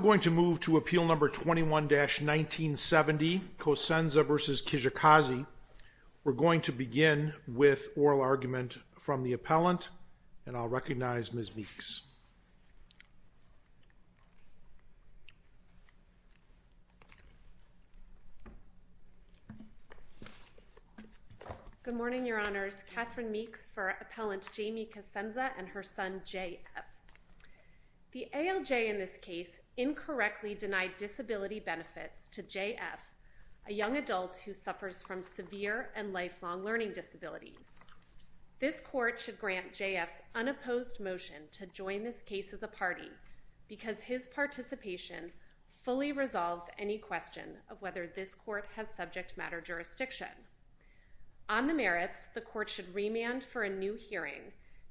1-1970 Cosenza v. Kijakazi. We're going to begin with oral argument from the appellant and I'll recognize Ms. Meeks. Good morning, Your Honors. Kathryn Meeks for Appellant Jamie Cosenza and her son JF. The ALJ in this case incorrectly denied disability benefits to JF, a young adult who suffers from severe and lifelong learning disabilities. This court should grant JF's unopposed motion to join this case as a party because his participation fully resolves any question of whether this court has subject matter jurisdiction. On the merits, the court should remand for a new hearing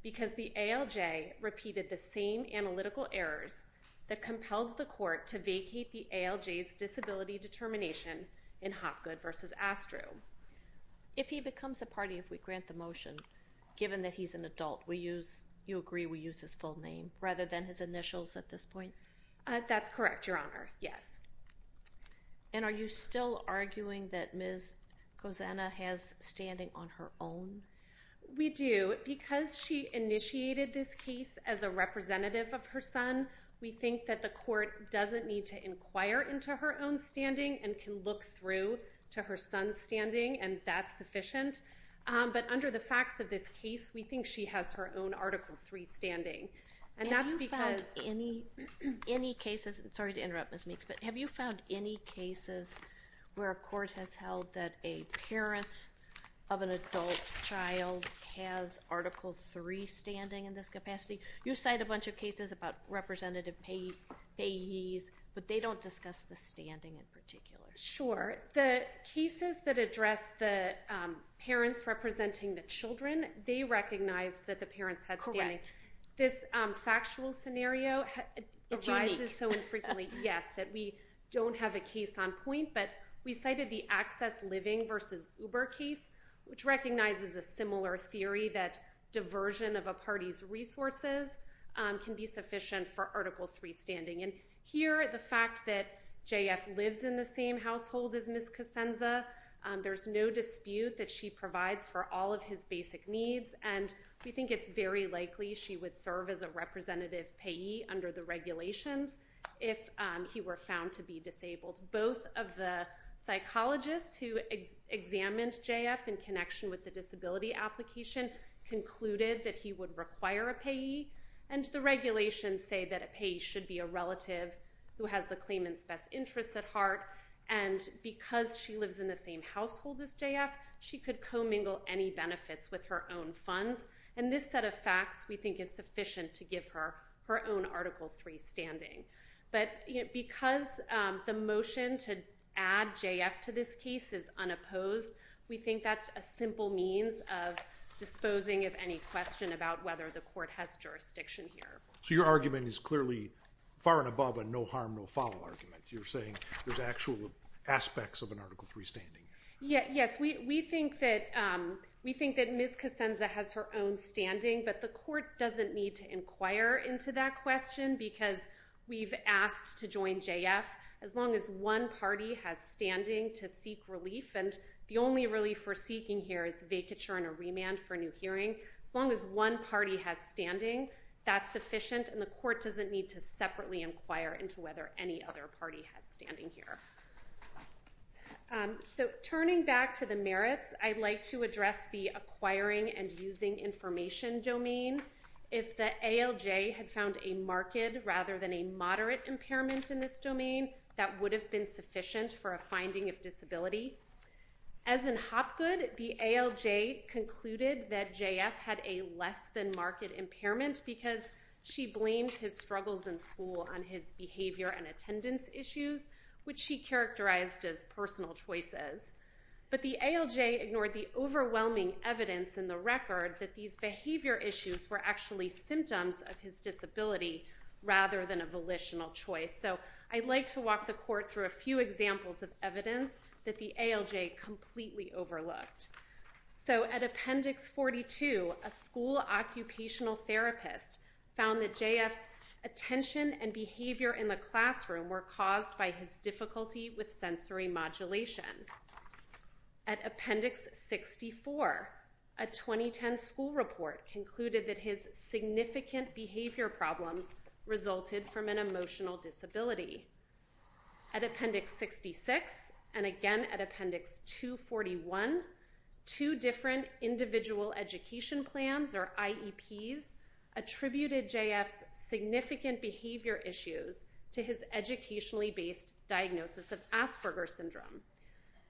because the ALJ repeated the same analytical errors that compels the court to vacate the ALJ's disability determination in Hopgood v. Astru. If he becomes a party, if we grant the motion, given that he's an adult we use you agree we use his full name rather than his initials at this point? That's correct, Your Honor. Yes. And are you still arguing that Ms. Cosenza has standing on her own? We do. Because she initiated this case as a representative of her son we think that the court doesn't need to inquire into her own standing and can look through to her son's standing and that's sufficient. But under the facts of this case we think she has her own Article 3 standing. And that's because... Have you found any cases, sorry to interrupt Ms. Meeks, but have you found any cases where a parent of an adult child has Article 3 standing in this capacity? You cite a bunch of cases about representative payees, but they don't discuss the standing in particular. Sure. The cases that address the parents representing the children, they recognized that the parents had standing. This factual scenario arises so infrequently, yes, that we don't have a case on point, but we cited the Access Living versus Uber case, which recognizes a similar theory that diversion of a party's resources can be sufficient for Article 3 standing. And here the fact that JF lives in the same household as Ms. Cosenza, there's no dispute that she provides for all of his basic needs and we think it's very likely she would serve as a representative payee under the who examined JF in connection with the disability application concluded that he would require a payee. And the regulations say that a payee should be a relative who has the claimant's best interests at heart. And because she lives in the same household as JF, she could co-mingle any benefits with her own funds. And this set of facts we think is sufficient to give her her own Article 3 standing. But because the motion to add JF to this case is unopposed, we think that's a simple means of disposing of any question about whether the court has jurisdiction here. So your argument is clearly far and above a no harm no follow argument. You're saying there's actual aspects of an Article 3 standing. Yes, we think that Ms. Cosenza has her own standing, but the we've asked to join JF. As long as one party has standing to seek relief, and the only relief we're seeking here is vacature and a remand for new hearing, as long as one party has standing, that's sufficient and the court doesn't need to separately inquire into whether any other party has standing here. So turning back to the merits, I'd like to address the acquiring and using information domain. If the ALJ had found a marked rather than a moderate impairment in this domain, that would have been sufficient for a finding of disability. As in Hopgood, the ALJ concluded that JF had a less than marked impairment because she blamed his struggles in school on his behavior and attendance issues, which she characterized as personal choices. But the ALJ ignored the issues were actually symptoms of his disability rather than a volitional choice. So I'd like to walk the court through a few examples of evidence that the ALJ completely overlooked. So at Appendix 42, a school occupational therapist found that JF's attention and behavior in the classroom were caused by his difficulty with sensory modulation. At Appendix 64, a 2010 school report concluded that his significant behavior problems resulted from an emotional disability. At Appendix 66 and again at Appendix 241, two different individual education plans or IEPs attributed JF's significant behavior issues to his educationally based diagnosis of Asperger syndrome.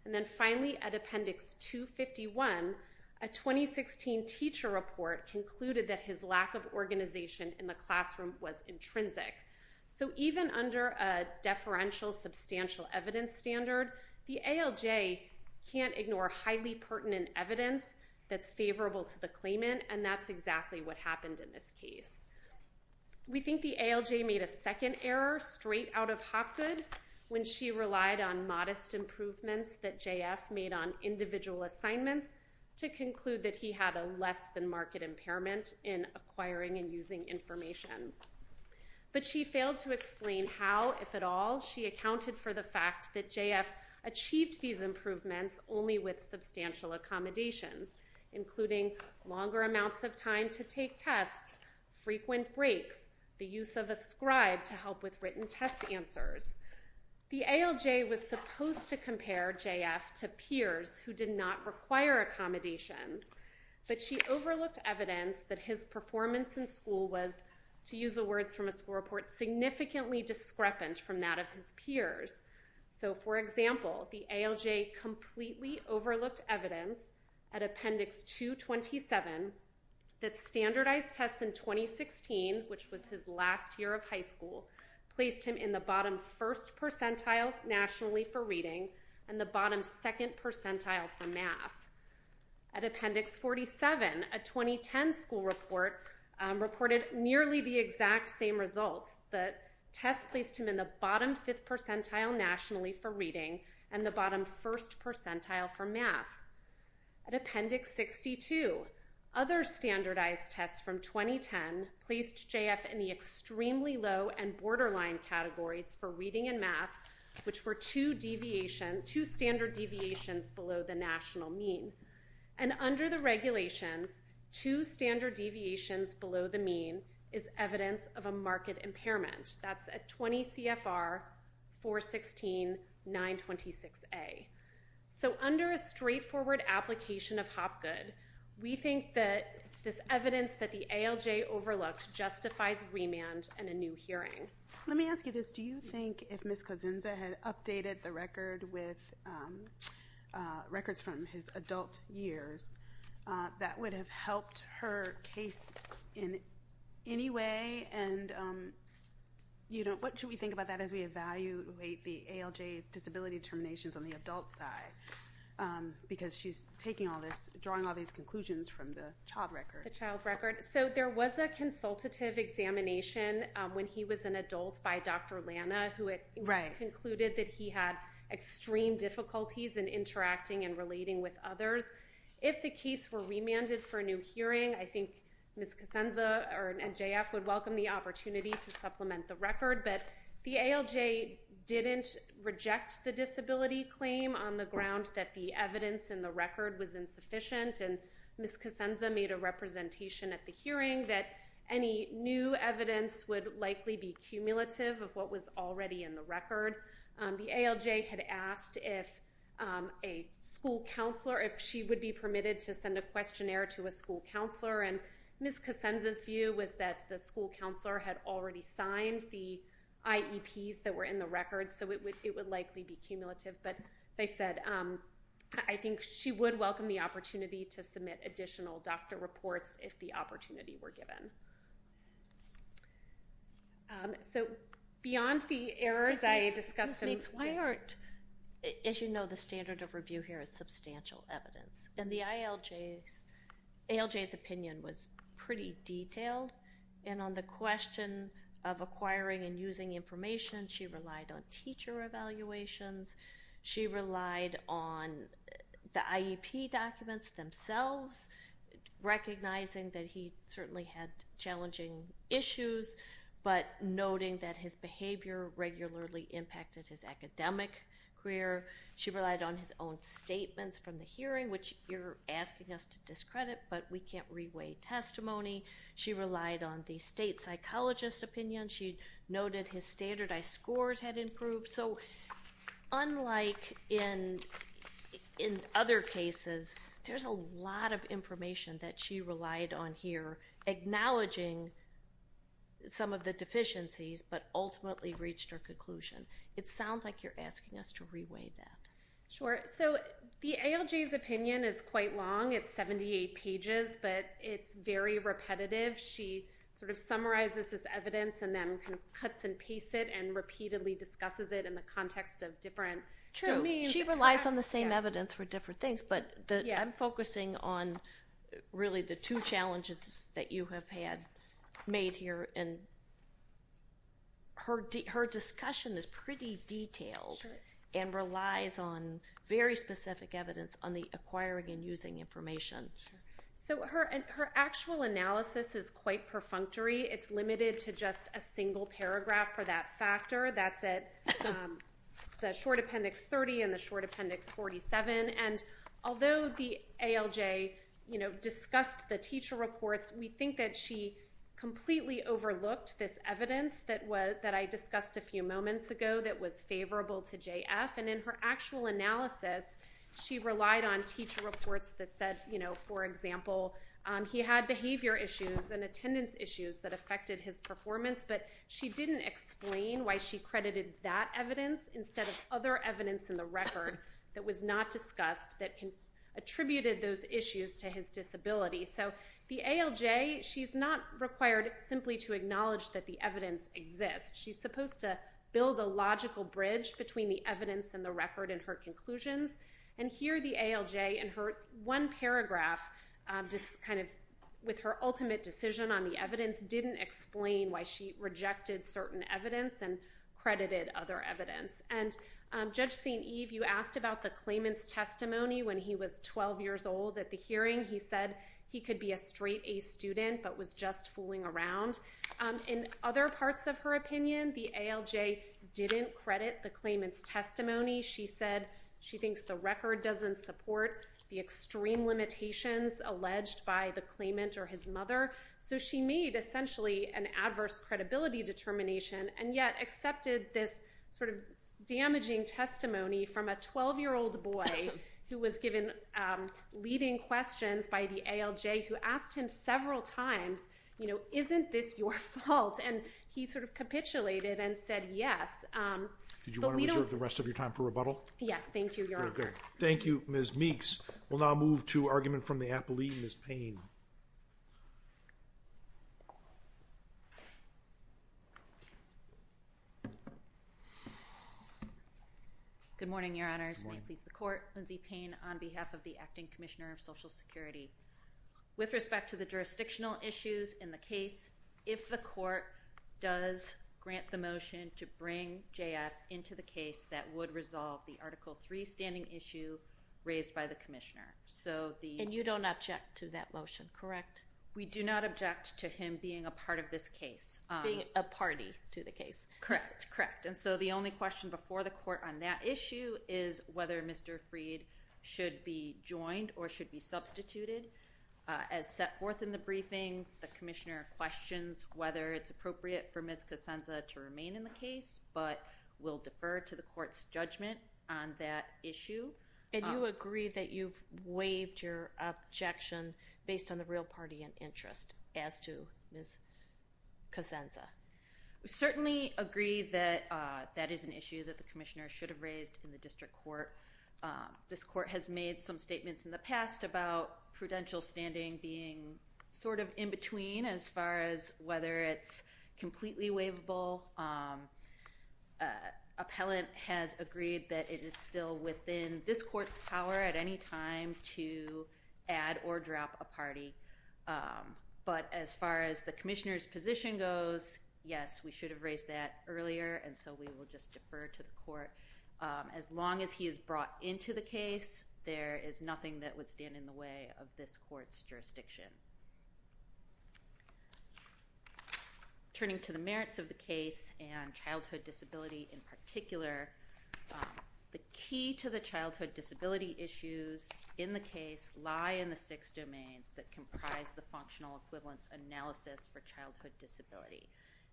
And then finally at Appendix 251, a 2016 teacher report concluded that his lack of organization in the classroom was intrinsic. So even under a deferential substantial evidence standard, the ALJ can't ignore highly pertinent evidence that's favorable to the claimant and that's exactly what happened in this case. We think the ALJ made a second error straight out of Hopgood when she relied on modest improvements that JF made on individual assignments to conclude that he had a less than market impairment in acquiring and using information. But she failed to explain how, if at all, she accounted for the fact that JF achieved these improvements only with substantial accommodations, including longer amounts of time to take tests, frequent breaks, the use of a scribe to help with written test answers. The ALJ was supposed to compare JF to peers who did not require accommodations, but she overlooked evidence that his performance in school was, to use the words from a school report, significantly discrepant from that of his peers. So for example, the ALJ completely overlooked evidence at Appendix 227 that standardized tests in 2016, which was his last year of high school, placed him in the bottom first percentile nationally for reading and the bottom second percentile for math. At Appendix 47, a 2010 school report reported nearly the exact same results. The test placed him in the bottom fifth percentile nationally for reading and the bottom first percentile for math. At Appendix 62, other standardized tests from 2010 placed JF in the extremely low and borderline categories for reading and math, which were two standard deviations below the national mean. And under the regulations, two standard deviations below the mean is evidence of a market impairment. That's at 20 CFR 416 926A. So under a straightforward application of Hopgood, we think that this evidence that the ALJ overlooked justifies remand and a new hearing. Let me ask you this. Do you think if Ms. Kozinza had updated the record with records from his adult years, that would have helped her case in any way? And you know, what should we think about that as we evaluate the ALJ's disability determinations on the adult side? Because she's taking all this, drawing all these records. The child record. So there was a consultative examination when he was an adult by Dr. Lana, who had concluded that he had extreme difficulties in interacting and relating with others. If the case were remanded for a new hearing, I think Ms. Kozinza and JF would welcome the opportunity to supplement the record. But the ALJ didn't reject the disability claim on the ground that the representation at the hearing, that any new evidence would likely be cumulative of what was already in the record. The ALJ had asked if a school counselor, if she would be permitted to send a questionnaire to a school counselor, and Ms. Kozinza's view was that the school counselor had already signed the IEPs that were in the record, so it would likely be cumulative. But as I said, I the opportunity were given. So beyond the errors I discussed... Ms. Meeks, why aren't, as you know, the standard of review here is substantial evidence. And the ALJ's opinion was pretty detailed. And on the question of acquiring and using information, she relied on teacher evaluations. She relied on the IEP documents themselves, recognizing that he certainly had challenging issues, but noting that his behavior regularly impacted his academic career. She relied on his own statements from the hearing, which you're asking us to discredit, but we can't re-weigh testimony. She relied on the state psychologist's opinion. She noted his standardized scores had improved. So unlike in other cases, there's a lot of information that she relied on here, acknowledging some of the deficiencies, but ultimately reached her conclusion. It sounds like you're asking us to re-weigh that. Sure. So the ALJ's opinion is quite long. It's 78 pages, but it's very repetitive. She sort of summarizes this evidence and then cuts and pastes it and repeatedly discusses it in the context of different... True. She relies on the same evidence for different things, but I'm focusing on really the two challenges that you have had made here. Her discussion is pretty detailed and relies on very specific evidence on the acquiring and using information. So her actual analysis is quite perfunctory. It's limited to just a single paragraph for that factor. That's at the short appendix 30 and the short appendix 47. And although the ALJ discussed the teacher reports, we think that she completely overlooked this evidence that I discussed a few moments ago that was favorable to JF. And in her actual analysis, she relied on teacher reports that said, for example, he had behavior issues and attendance issues that didn't explain why she credited that evidence instead of other evidence in the record that was not discussed that attributed those issues to his disability. So the ALJ, she's not required simply to acknowledge that the evidence exists. She's supposed to build a logical bridge between the evidence and the record in her conclusions. And here the ALJ in her one paragraph, just kind of with her ultimate decision on the evidence, didn't explain why she rejected certain evidence and credited other evidence. And Judge St. Eve, you asked about the claimant's testimony when he was 12 years old at the hearing. He said he could be a straight-A student but was just fooling around. In other parts of her opinion, the ALJ didn't credit the claimant's testimony. She said she thinks the record doesn't support the extreme limitations alleged by the disability determination, and yet accepted this sort of damaging testimony from a 12-year-old boy who was given leading questions by the ALJ who asked him several times, you know, isn't this your fault? And he sort of capitulated and said yes. Did you want to reserve the rest of your time for rebuttal? Yes, thank you, Your Honor. Thank you, Ms. Meeks. We'll now move to argument from the Court. Good morning, Your Honors. May it please the Court. Lindsay Payne on behalf of the Acting Commissioner of Social Security. With respect to the jurisdictional issues in the case, if the Court does grant the motion to bring JF into the case, that would resolve the Article 3 standing issue raised by the Commissioner. So the... And you don't object to that motion, correct? We do not object to him being a party to the case. Correct, correct. And so the only question before the Court on that issue is whether Mr. Freed should be joined or should be substituted. As set forth in the briefing, the Commissioner questions whether it's appropriate for Ms. Cosenza to remain in the case, but will defer to the Court's judgment on that issue. And you agree that you've waived your objection based on the real party and interest as to Ms. Cosenza. We certainly agree that that is an issue that the Commissioner should have raised in the District Court. This Court has made some statements in the past about prudential standing being sort of in between as far as whether it's completely waivable. Appellant has agreed that it is still within this Court's power at any time to add or drop a party. But as far as the Commissioner's position goes, yes, we should have raised that earlier and so we will just defer to the Court. As long as he is brought into the case, there is nothing that would stand in the way of this Court's jurisdiction. Turning to the merits of the case and childhood disability in The key to the childhood disability issues in the case lie in the six domains that comprise the functional equivalence analysis for childhood disability.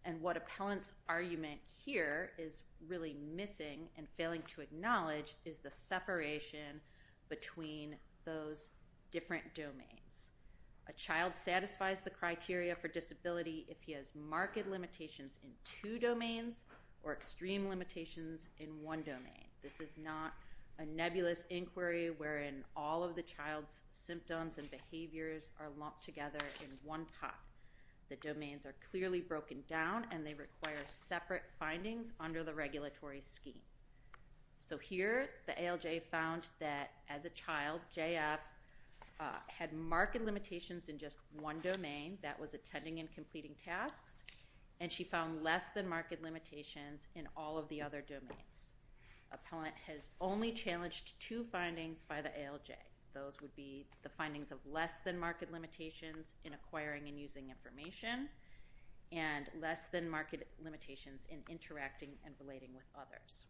And what appellant's argument here is really missing and failing to acknowledge is the separation between those different domains. A child satisfies the criteria for disability if he has marked limitations in two domains or extreme limitations in one domain. This is not a nebulous inquiry wherein all of the child's symptoms and behaviors are lumped together in one pot. The domains are clearly broken down and they require separate findings under the regulatory scheme. So here the ALJ found that as a child, JF had marked limitations in just one domain that was attending and completing tasks and she found less-than-marked limitations in all of the other domains. Appellant has only challenged two findings by the ALJ. Those would be the findings of less-than- marked limitations in acquiring and using information and less-than-marked limitations in interacting and relating with others.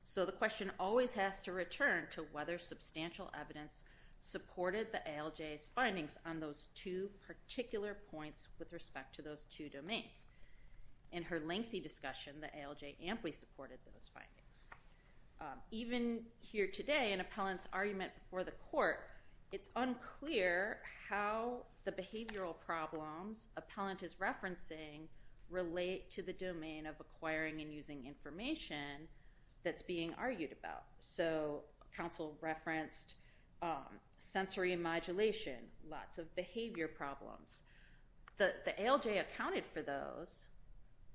So the question always has to return to whether substantial evidence supported the ALJ's findings on those two particular points with respect to those two domains. In her lengthy discussion, the ALJ amply supported those findings. Even here today in appellant's argument before the court, it's unclear how the behavioral problems appellant is referencing relate to the domain of acquiring and using information that's being argued about. So counsel referenced sensory modulation, lots of behavior problems. The ALJ accounted for those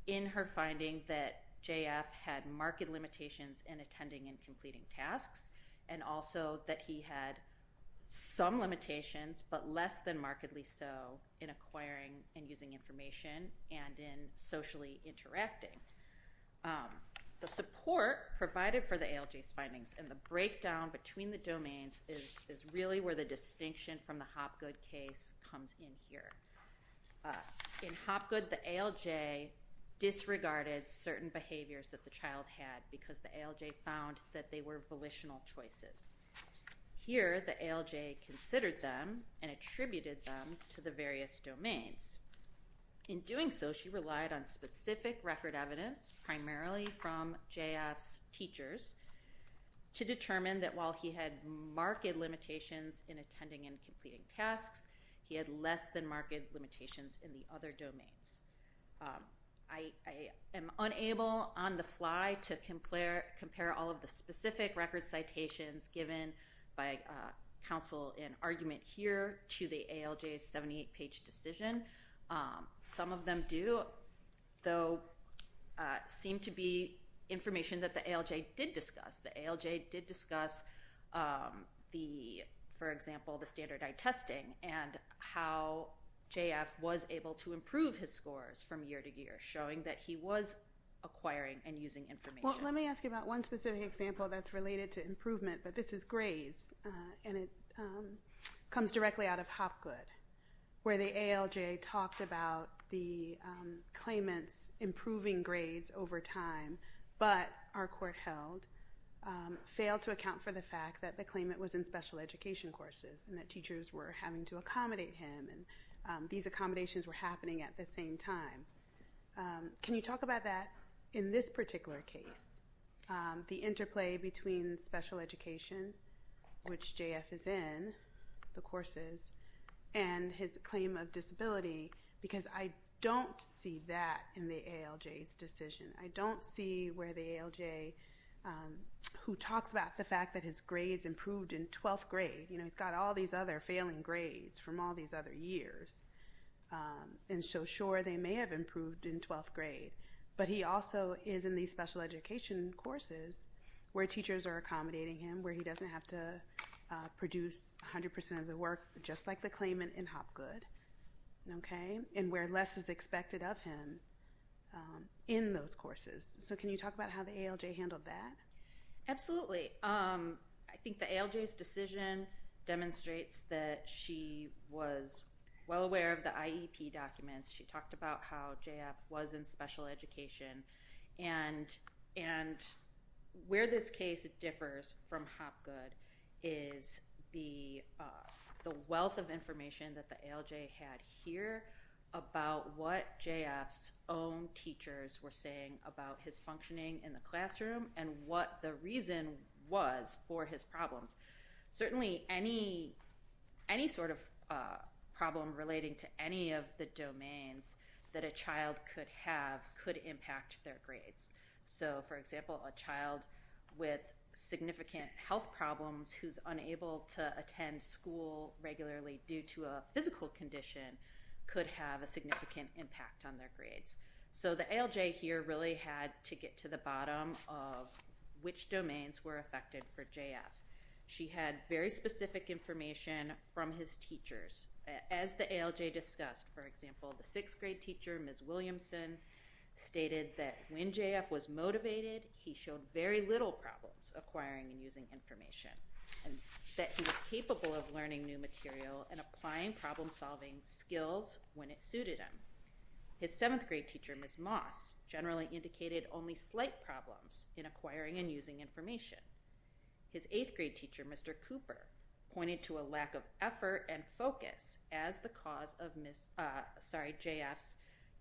in her finding that JF had marked limitations in attending and completing tasks and also that he had some limitations but less-than-markedly so in acquiring and using information and in socially interacting. The support provided for the ALJ's findings and the breakdown between the domains is really where the distinction from the findings comes in here. In Hopgood, the ALJ disregarded certain behaviors that the child had because the ALJ found that they were volitional choices. Here, the ALJ considered them and attributed them to the various domains. In doing so, she relied on specific record evidence, primarily from JF's teachers, to determine that while he had marked limitations in attending and completing tasks, he had less-than-marked limitations in the other domains. I am unable on the fly to compare all of the specific record citations given by counsel in argument here to the ALJ's 78-page decision. Some of them do, though, seem to be information that the ALJ did discuss. The ALJ did discuss the, for testing, and how JF was able to improve his scores from year to year, showing that he was acquiring and using information. Well, let me ask you about one specific example that's related to improvement, but this is grades, and it comes directly out of Hopgood, where the ALJ talked about the claimants improving grades over time but, our court held, failed to account for the fact that the claimant was in special education courses, and that teachers were having to accommodate him, and these accommodations were happening at the same time. Can you talk about that in this particular case, the interplay between special education, which JF is in, the courses, and his claim of disability? Because I don't see that in the ALJ's decision. I don't see where the ALJ's improved in 12th grade. You know, he's got all these other failing grades from all these other years, and so sure, they may have improved in 12th grade, but he also is in these special education courses where teachers are accommodating him, where he doesn't have to produce 100% of the work, just like the claimant in Hopgood, okay, and where less is expected of him in those courses. So can you talk about how the ALJ handled that? Absolutely. I think the ALJ's decision demonstrates that she was well aware of the IEP documents. She talked about how JF was in special education, and where this case differs from Hopgood is the the wealth of information that the ALJ had here about what JF's own teachers were saying about his functioning in the classroom, and what the reason was for his problems. Certainly any sort of problem relating to any of the domains that a child could have could impact their grades. So for example, a child with significant health problems who's unable to attend school regularly due to a physical condition could have a significant impact on their grades. So the ALJ here really had to get to the bottom of which domains were affected for JF. She had very specific information from his teachers. As the ALJ discussed, for example, the sixth grade teacher, Ms. Williamson, stated that when JF was motivated, he showed very little problems acquiring and using information, and that he was capable of learning new material and applying problem-solving skills when it suited him. His seventh grade teacher, Ms. Moss, generally indicated only slight problems in acquiring and using information. His eighth grade teacher, Mr. Cooper, pointed to a lack of effort and focus as the cause of JF's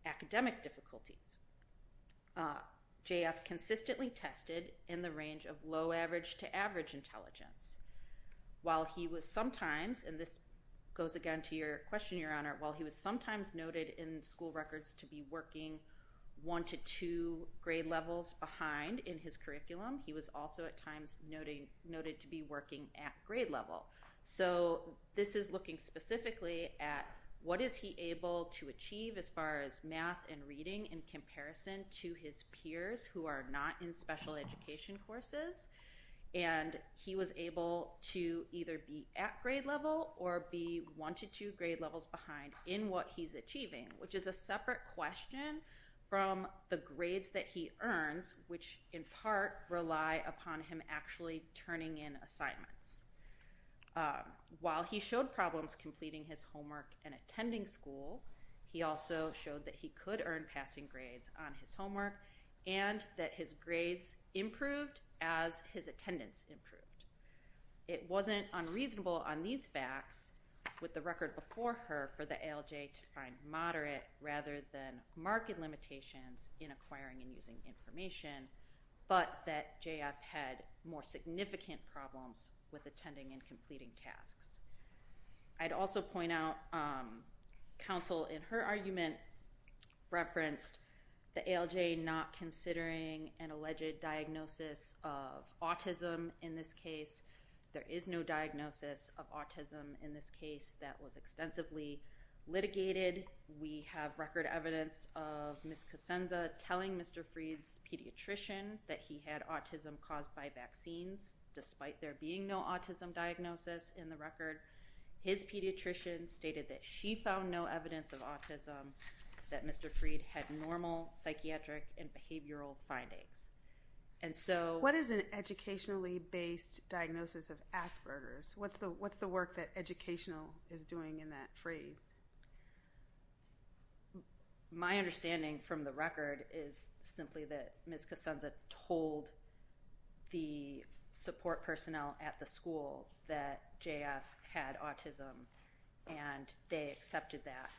academic difficulties. JF consistently tested in the range of low average to average intelligence. While he was sometimes, and this goes again to your question, Your Honor, while he was sometimes noted in school records to be working one to two grade levels behind in his curriculum, he was also at times noted to be working at grade level. So this is looking specifically at what is he able to achieve as far as math and reading in comparison to his peers who are not in special education courses, and he was able to either be at grade level or be one to two grade levels behind in what he's achieving, which is a separate question from the grades that he earns, which in part rely upon him actually turning in assignments. While he showed problems completing his homework and attending school, he also showed that he could earn passing grades on his homework and that his grades improved as his attendance improved. It wasn't unreasonable on these facts with the record before her for the ALJ to find moderate rather than marked limitations in acquiring and using information, but that JF had more significant problems with attending and completing tasks. I'd also point out counsel in her argument referenced the ALJ not considering an alleged diagnosis of autism in this case. There is no diagnosis of autism in this case that was extensively litigated. We have record evidence of Ms. Cosenza telling Mr. Freed's pediatrician that he had autism caused by vaccines despite there being no autism diagnosis in the Mr. Freed had normal psychiatric and behavioral findings. And so what is an educationally based diagnosis of Asperger's? What's the what's the work that educational is doing in that phrase? My understanding from the record is simply that Ms. Cosenza told the support personnel at the school that JF had autism and they accepted that.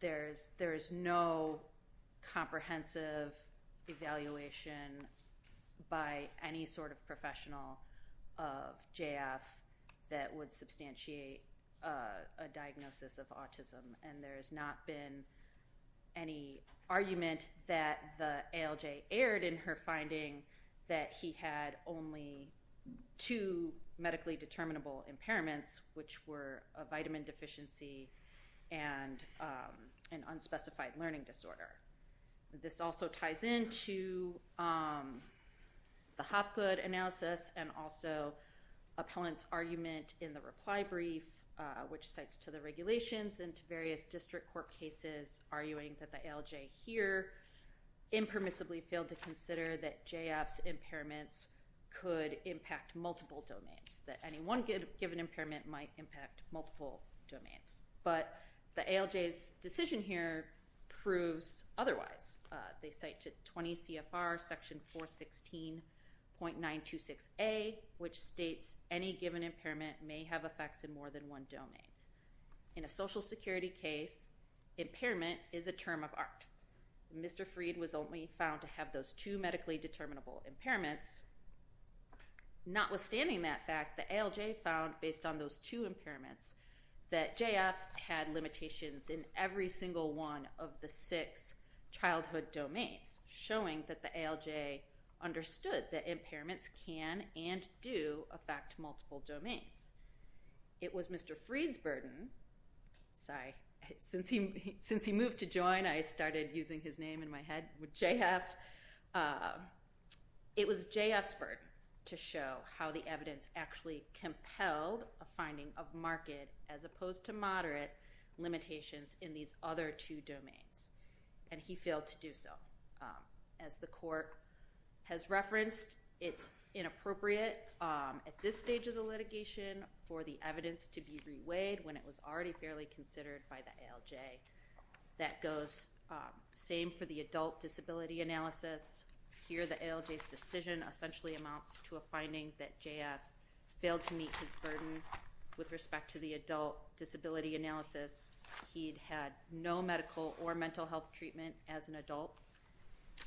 There's there's no comprehensive evaluation by any sort of professional of JF that would substantiate a diagnosis of autism and there has not been any argument that the ALJ erred in her finding that he had only two medically determinable impairments which were a vitamin deficiency and an unspecified learning disorder. This also ties into the Hopgood analysis and also appellant's argument in the reply brief which cites to the regulations and to various district court cases arguing that the ALJ here impermissibly failed to consider that JF's impairments could impact multiple domains that any one good given impairment might impact multiple domains. But the ALJ's decision here proves otherwise. They cite to 20 CFR section 416.926 a which states any given impairment may have effects in more than one domain. In a social security case in impairment is a term of art. Mr. Freed was only found to have those two medically determinable impairments. Notwithstanding that fact the ALJ found based on those two impairments that JF had limitations in every single one of the six childhood domains showing that the ALJ understood that impairments can and do affect multiple domains. It was Mr. Freed's burden. Sorry. Since he moved to join I started using his name in my head with JF. It was JF's burden to show how the evidence actually compelled a finding of market as opposed to moderate limitations in these other two domains and he failed to do so. As the appropriate at this stage of the litigation for the evidence to be reweighed when it was already fairly considered by the ALJ. That goes same for the adult disability analysis. Here the ALJ's decision essentially amounts to a finding that JF failed to meet his burden with respect to the adult disability analysis. He'd had no medical or mental health treatment as an adult.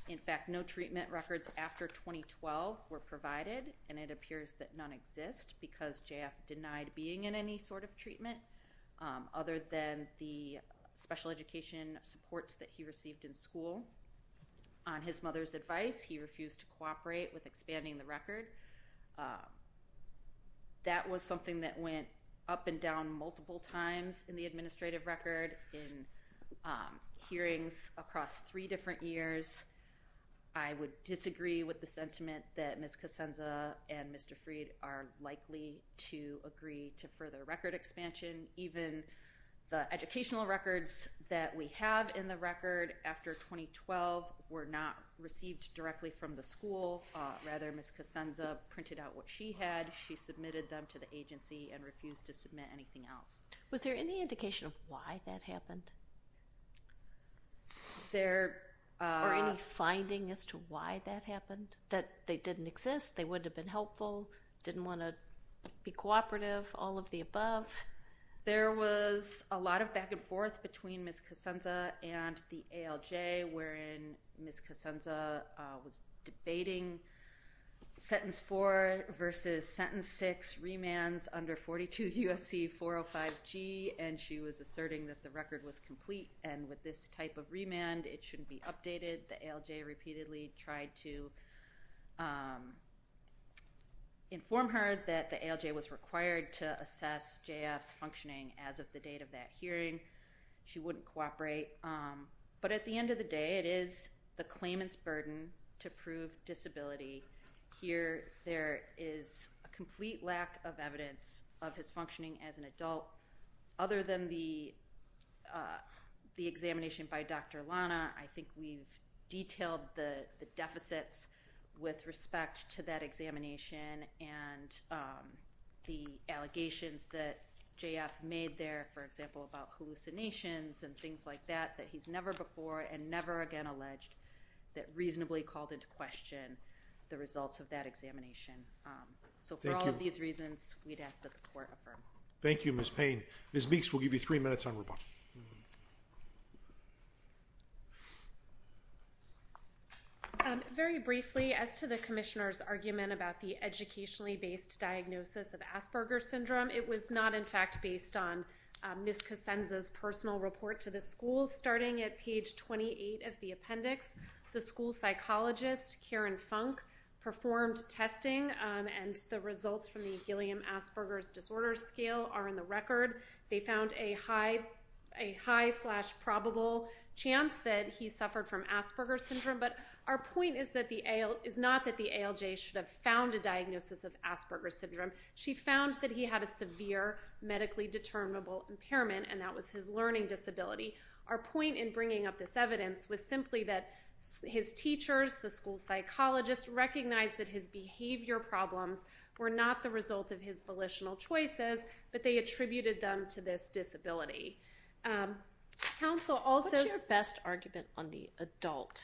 In fact no treatment records after 2012 were provided and it appears that none exist because JF denied being in any sort of treatment other than the special education supports that he received in school. On his mother's advice he refused to cooperate with expanding the record. That was something that went up and down multiple times in the administrative record in hearings across three different years. I would disagree with the sentiment that Ms. Kacenza and Mr. Freed are likely to agree to further record expansion. Even the educational records that we have in the record after 2012 were not received directly from the school. Rather Ms. Kacenza printed out what she had. She submitted them to the agency and refused to submit anything else. Was there any indication of why that happened? Or any finding as to why that happened? That they didn't exist, they would have been helpful, didn't want to be cooperative, all of the above? There was a lot of back and forth between Ms. Kacenza and the ALJ wherein Ms. Kacenza was debating sentence four versus sentence six remands under 42 USC 405 G and she was asserting that the record was complete and with this type of remand it shouldn't be updated. The ALJ repeatedly tried to inform her that the ALJ was required to assess JF's functioning as of the date of that hearing. She wouldn't cooperate but at the end of the day it is the claimant's burden to prove disability. Here there is a complete lack of evidence of his functioning as an adult other than the the examination by Dr. Lana. I think we've detailed the deficits with respect to that examination and the allegations that JF made there for example about hallucinations and things like that that he's never before and never again alleged that reasonably called into question the results of that examination. So for all of these reasons we'd ask that the court affirm. Thank you Ms. Payne. Ms. Meeks we'll give you three minutes on rebuttal. Very briefly as to the Commissioner's argument about the educationally based diagnosis of Asperger's syndrome it was not in fact based on Ms. Kacenza's personal report to the school starting at page 28 of the appendix. The school psychologist Karen Funk performed testing and the results from the Gilliam Asperger's disorder scale are in the record. They found a high a high slash probable chance that he suffered from Asperger's syndrome but our point is that the ALJ is not that the ALJ should have found a diagnosis of Asperger's syndrome. She found that he had a severe medically determinable impairment and that was his learning disability. Our point in bringing up this evidence was simply that his teachers the school psychologists recognized that his behavior problems were not the result of his volitional choices but they attributed them to this disability. What's your best argument on the adult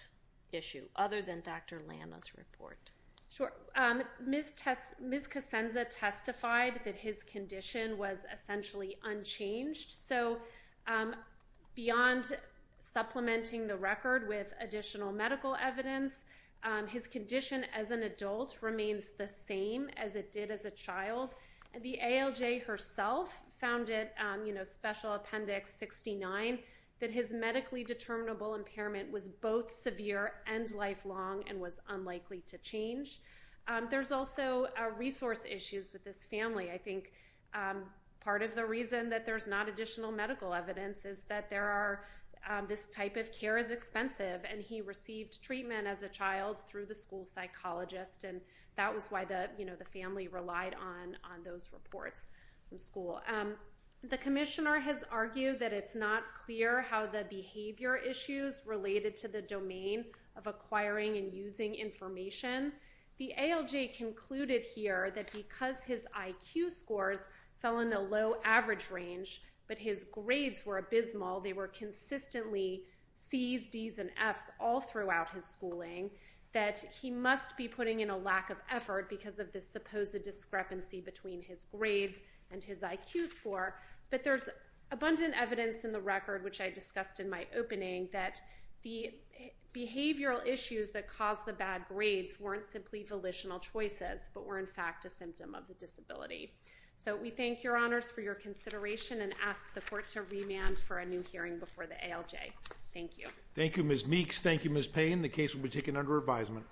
issue other than Dr. Lana's report? Ms. Kacenza testified that his condition was essentially unchanged so beyond supplementing the record with additional medical evidence his condition as an adult remains the same as it did as a child and the ALJ herself found it you know special appendix 69 that his medically determinable impairment was both severe and lifelong and was unlikely to change. There's also resource issues with this family. I think part of the reason that there's not additional medical evidence is that there are this type of care is expensive and he received treatment as a child through the school psychologist and that was why the you know the family relied on on those reports from school. The Commissioner has argued that it's not clear how the behavior issues related to the domain of acquiring and IQ scores fell in the low average range but his grades were abysmal they were consistently C's D's and F's all throughout his schooling that he must be putting in a lack of effort because of this supposed discrepancy between his grades and his IQ score but there's abundant evidence in the record which I discussed in my opening that the behavioral issues that caused the bad grades weren't simply volitional choices but were in fact a symptom of the disability. So we thank your honors for your consideration and ask the court to remand for a new hearing before the ALJ. Thank you. Thank you Ms. Meeks. Thank you Ms. Payne. The case will be taken under advisement.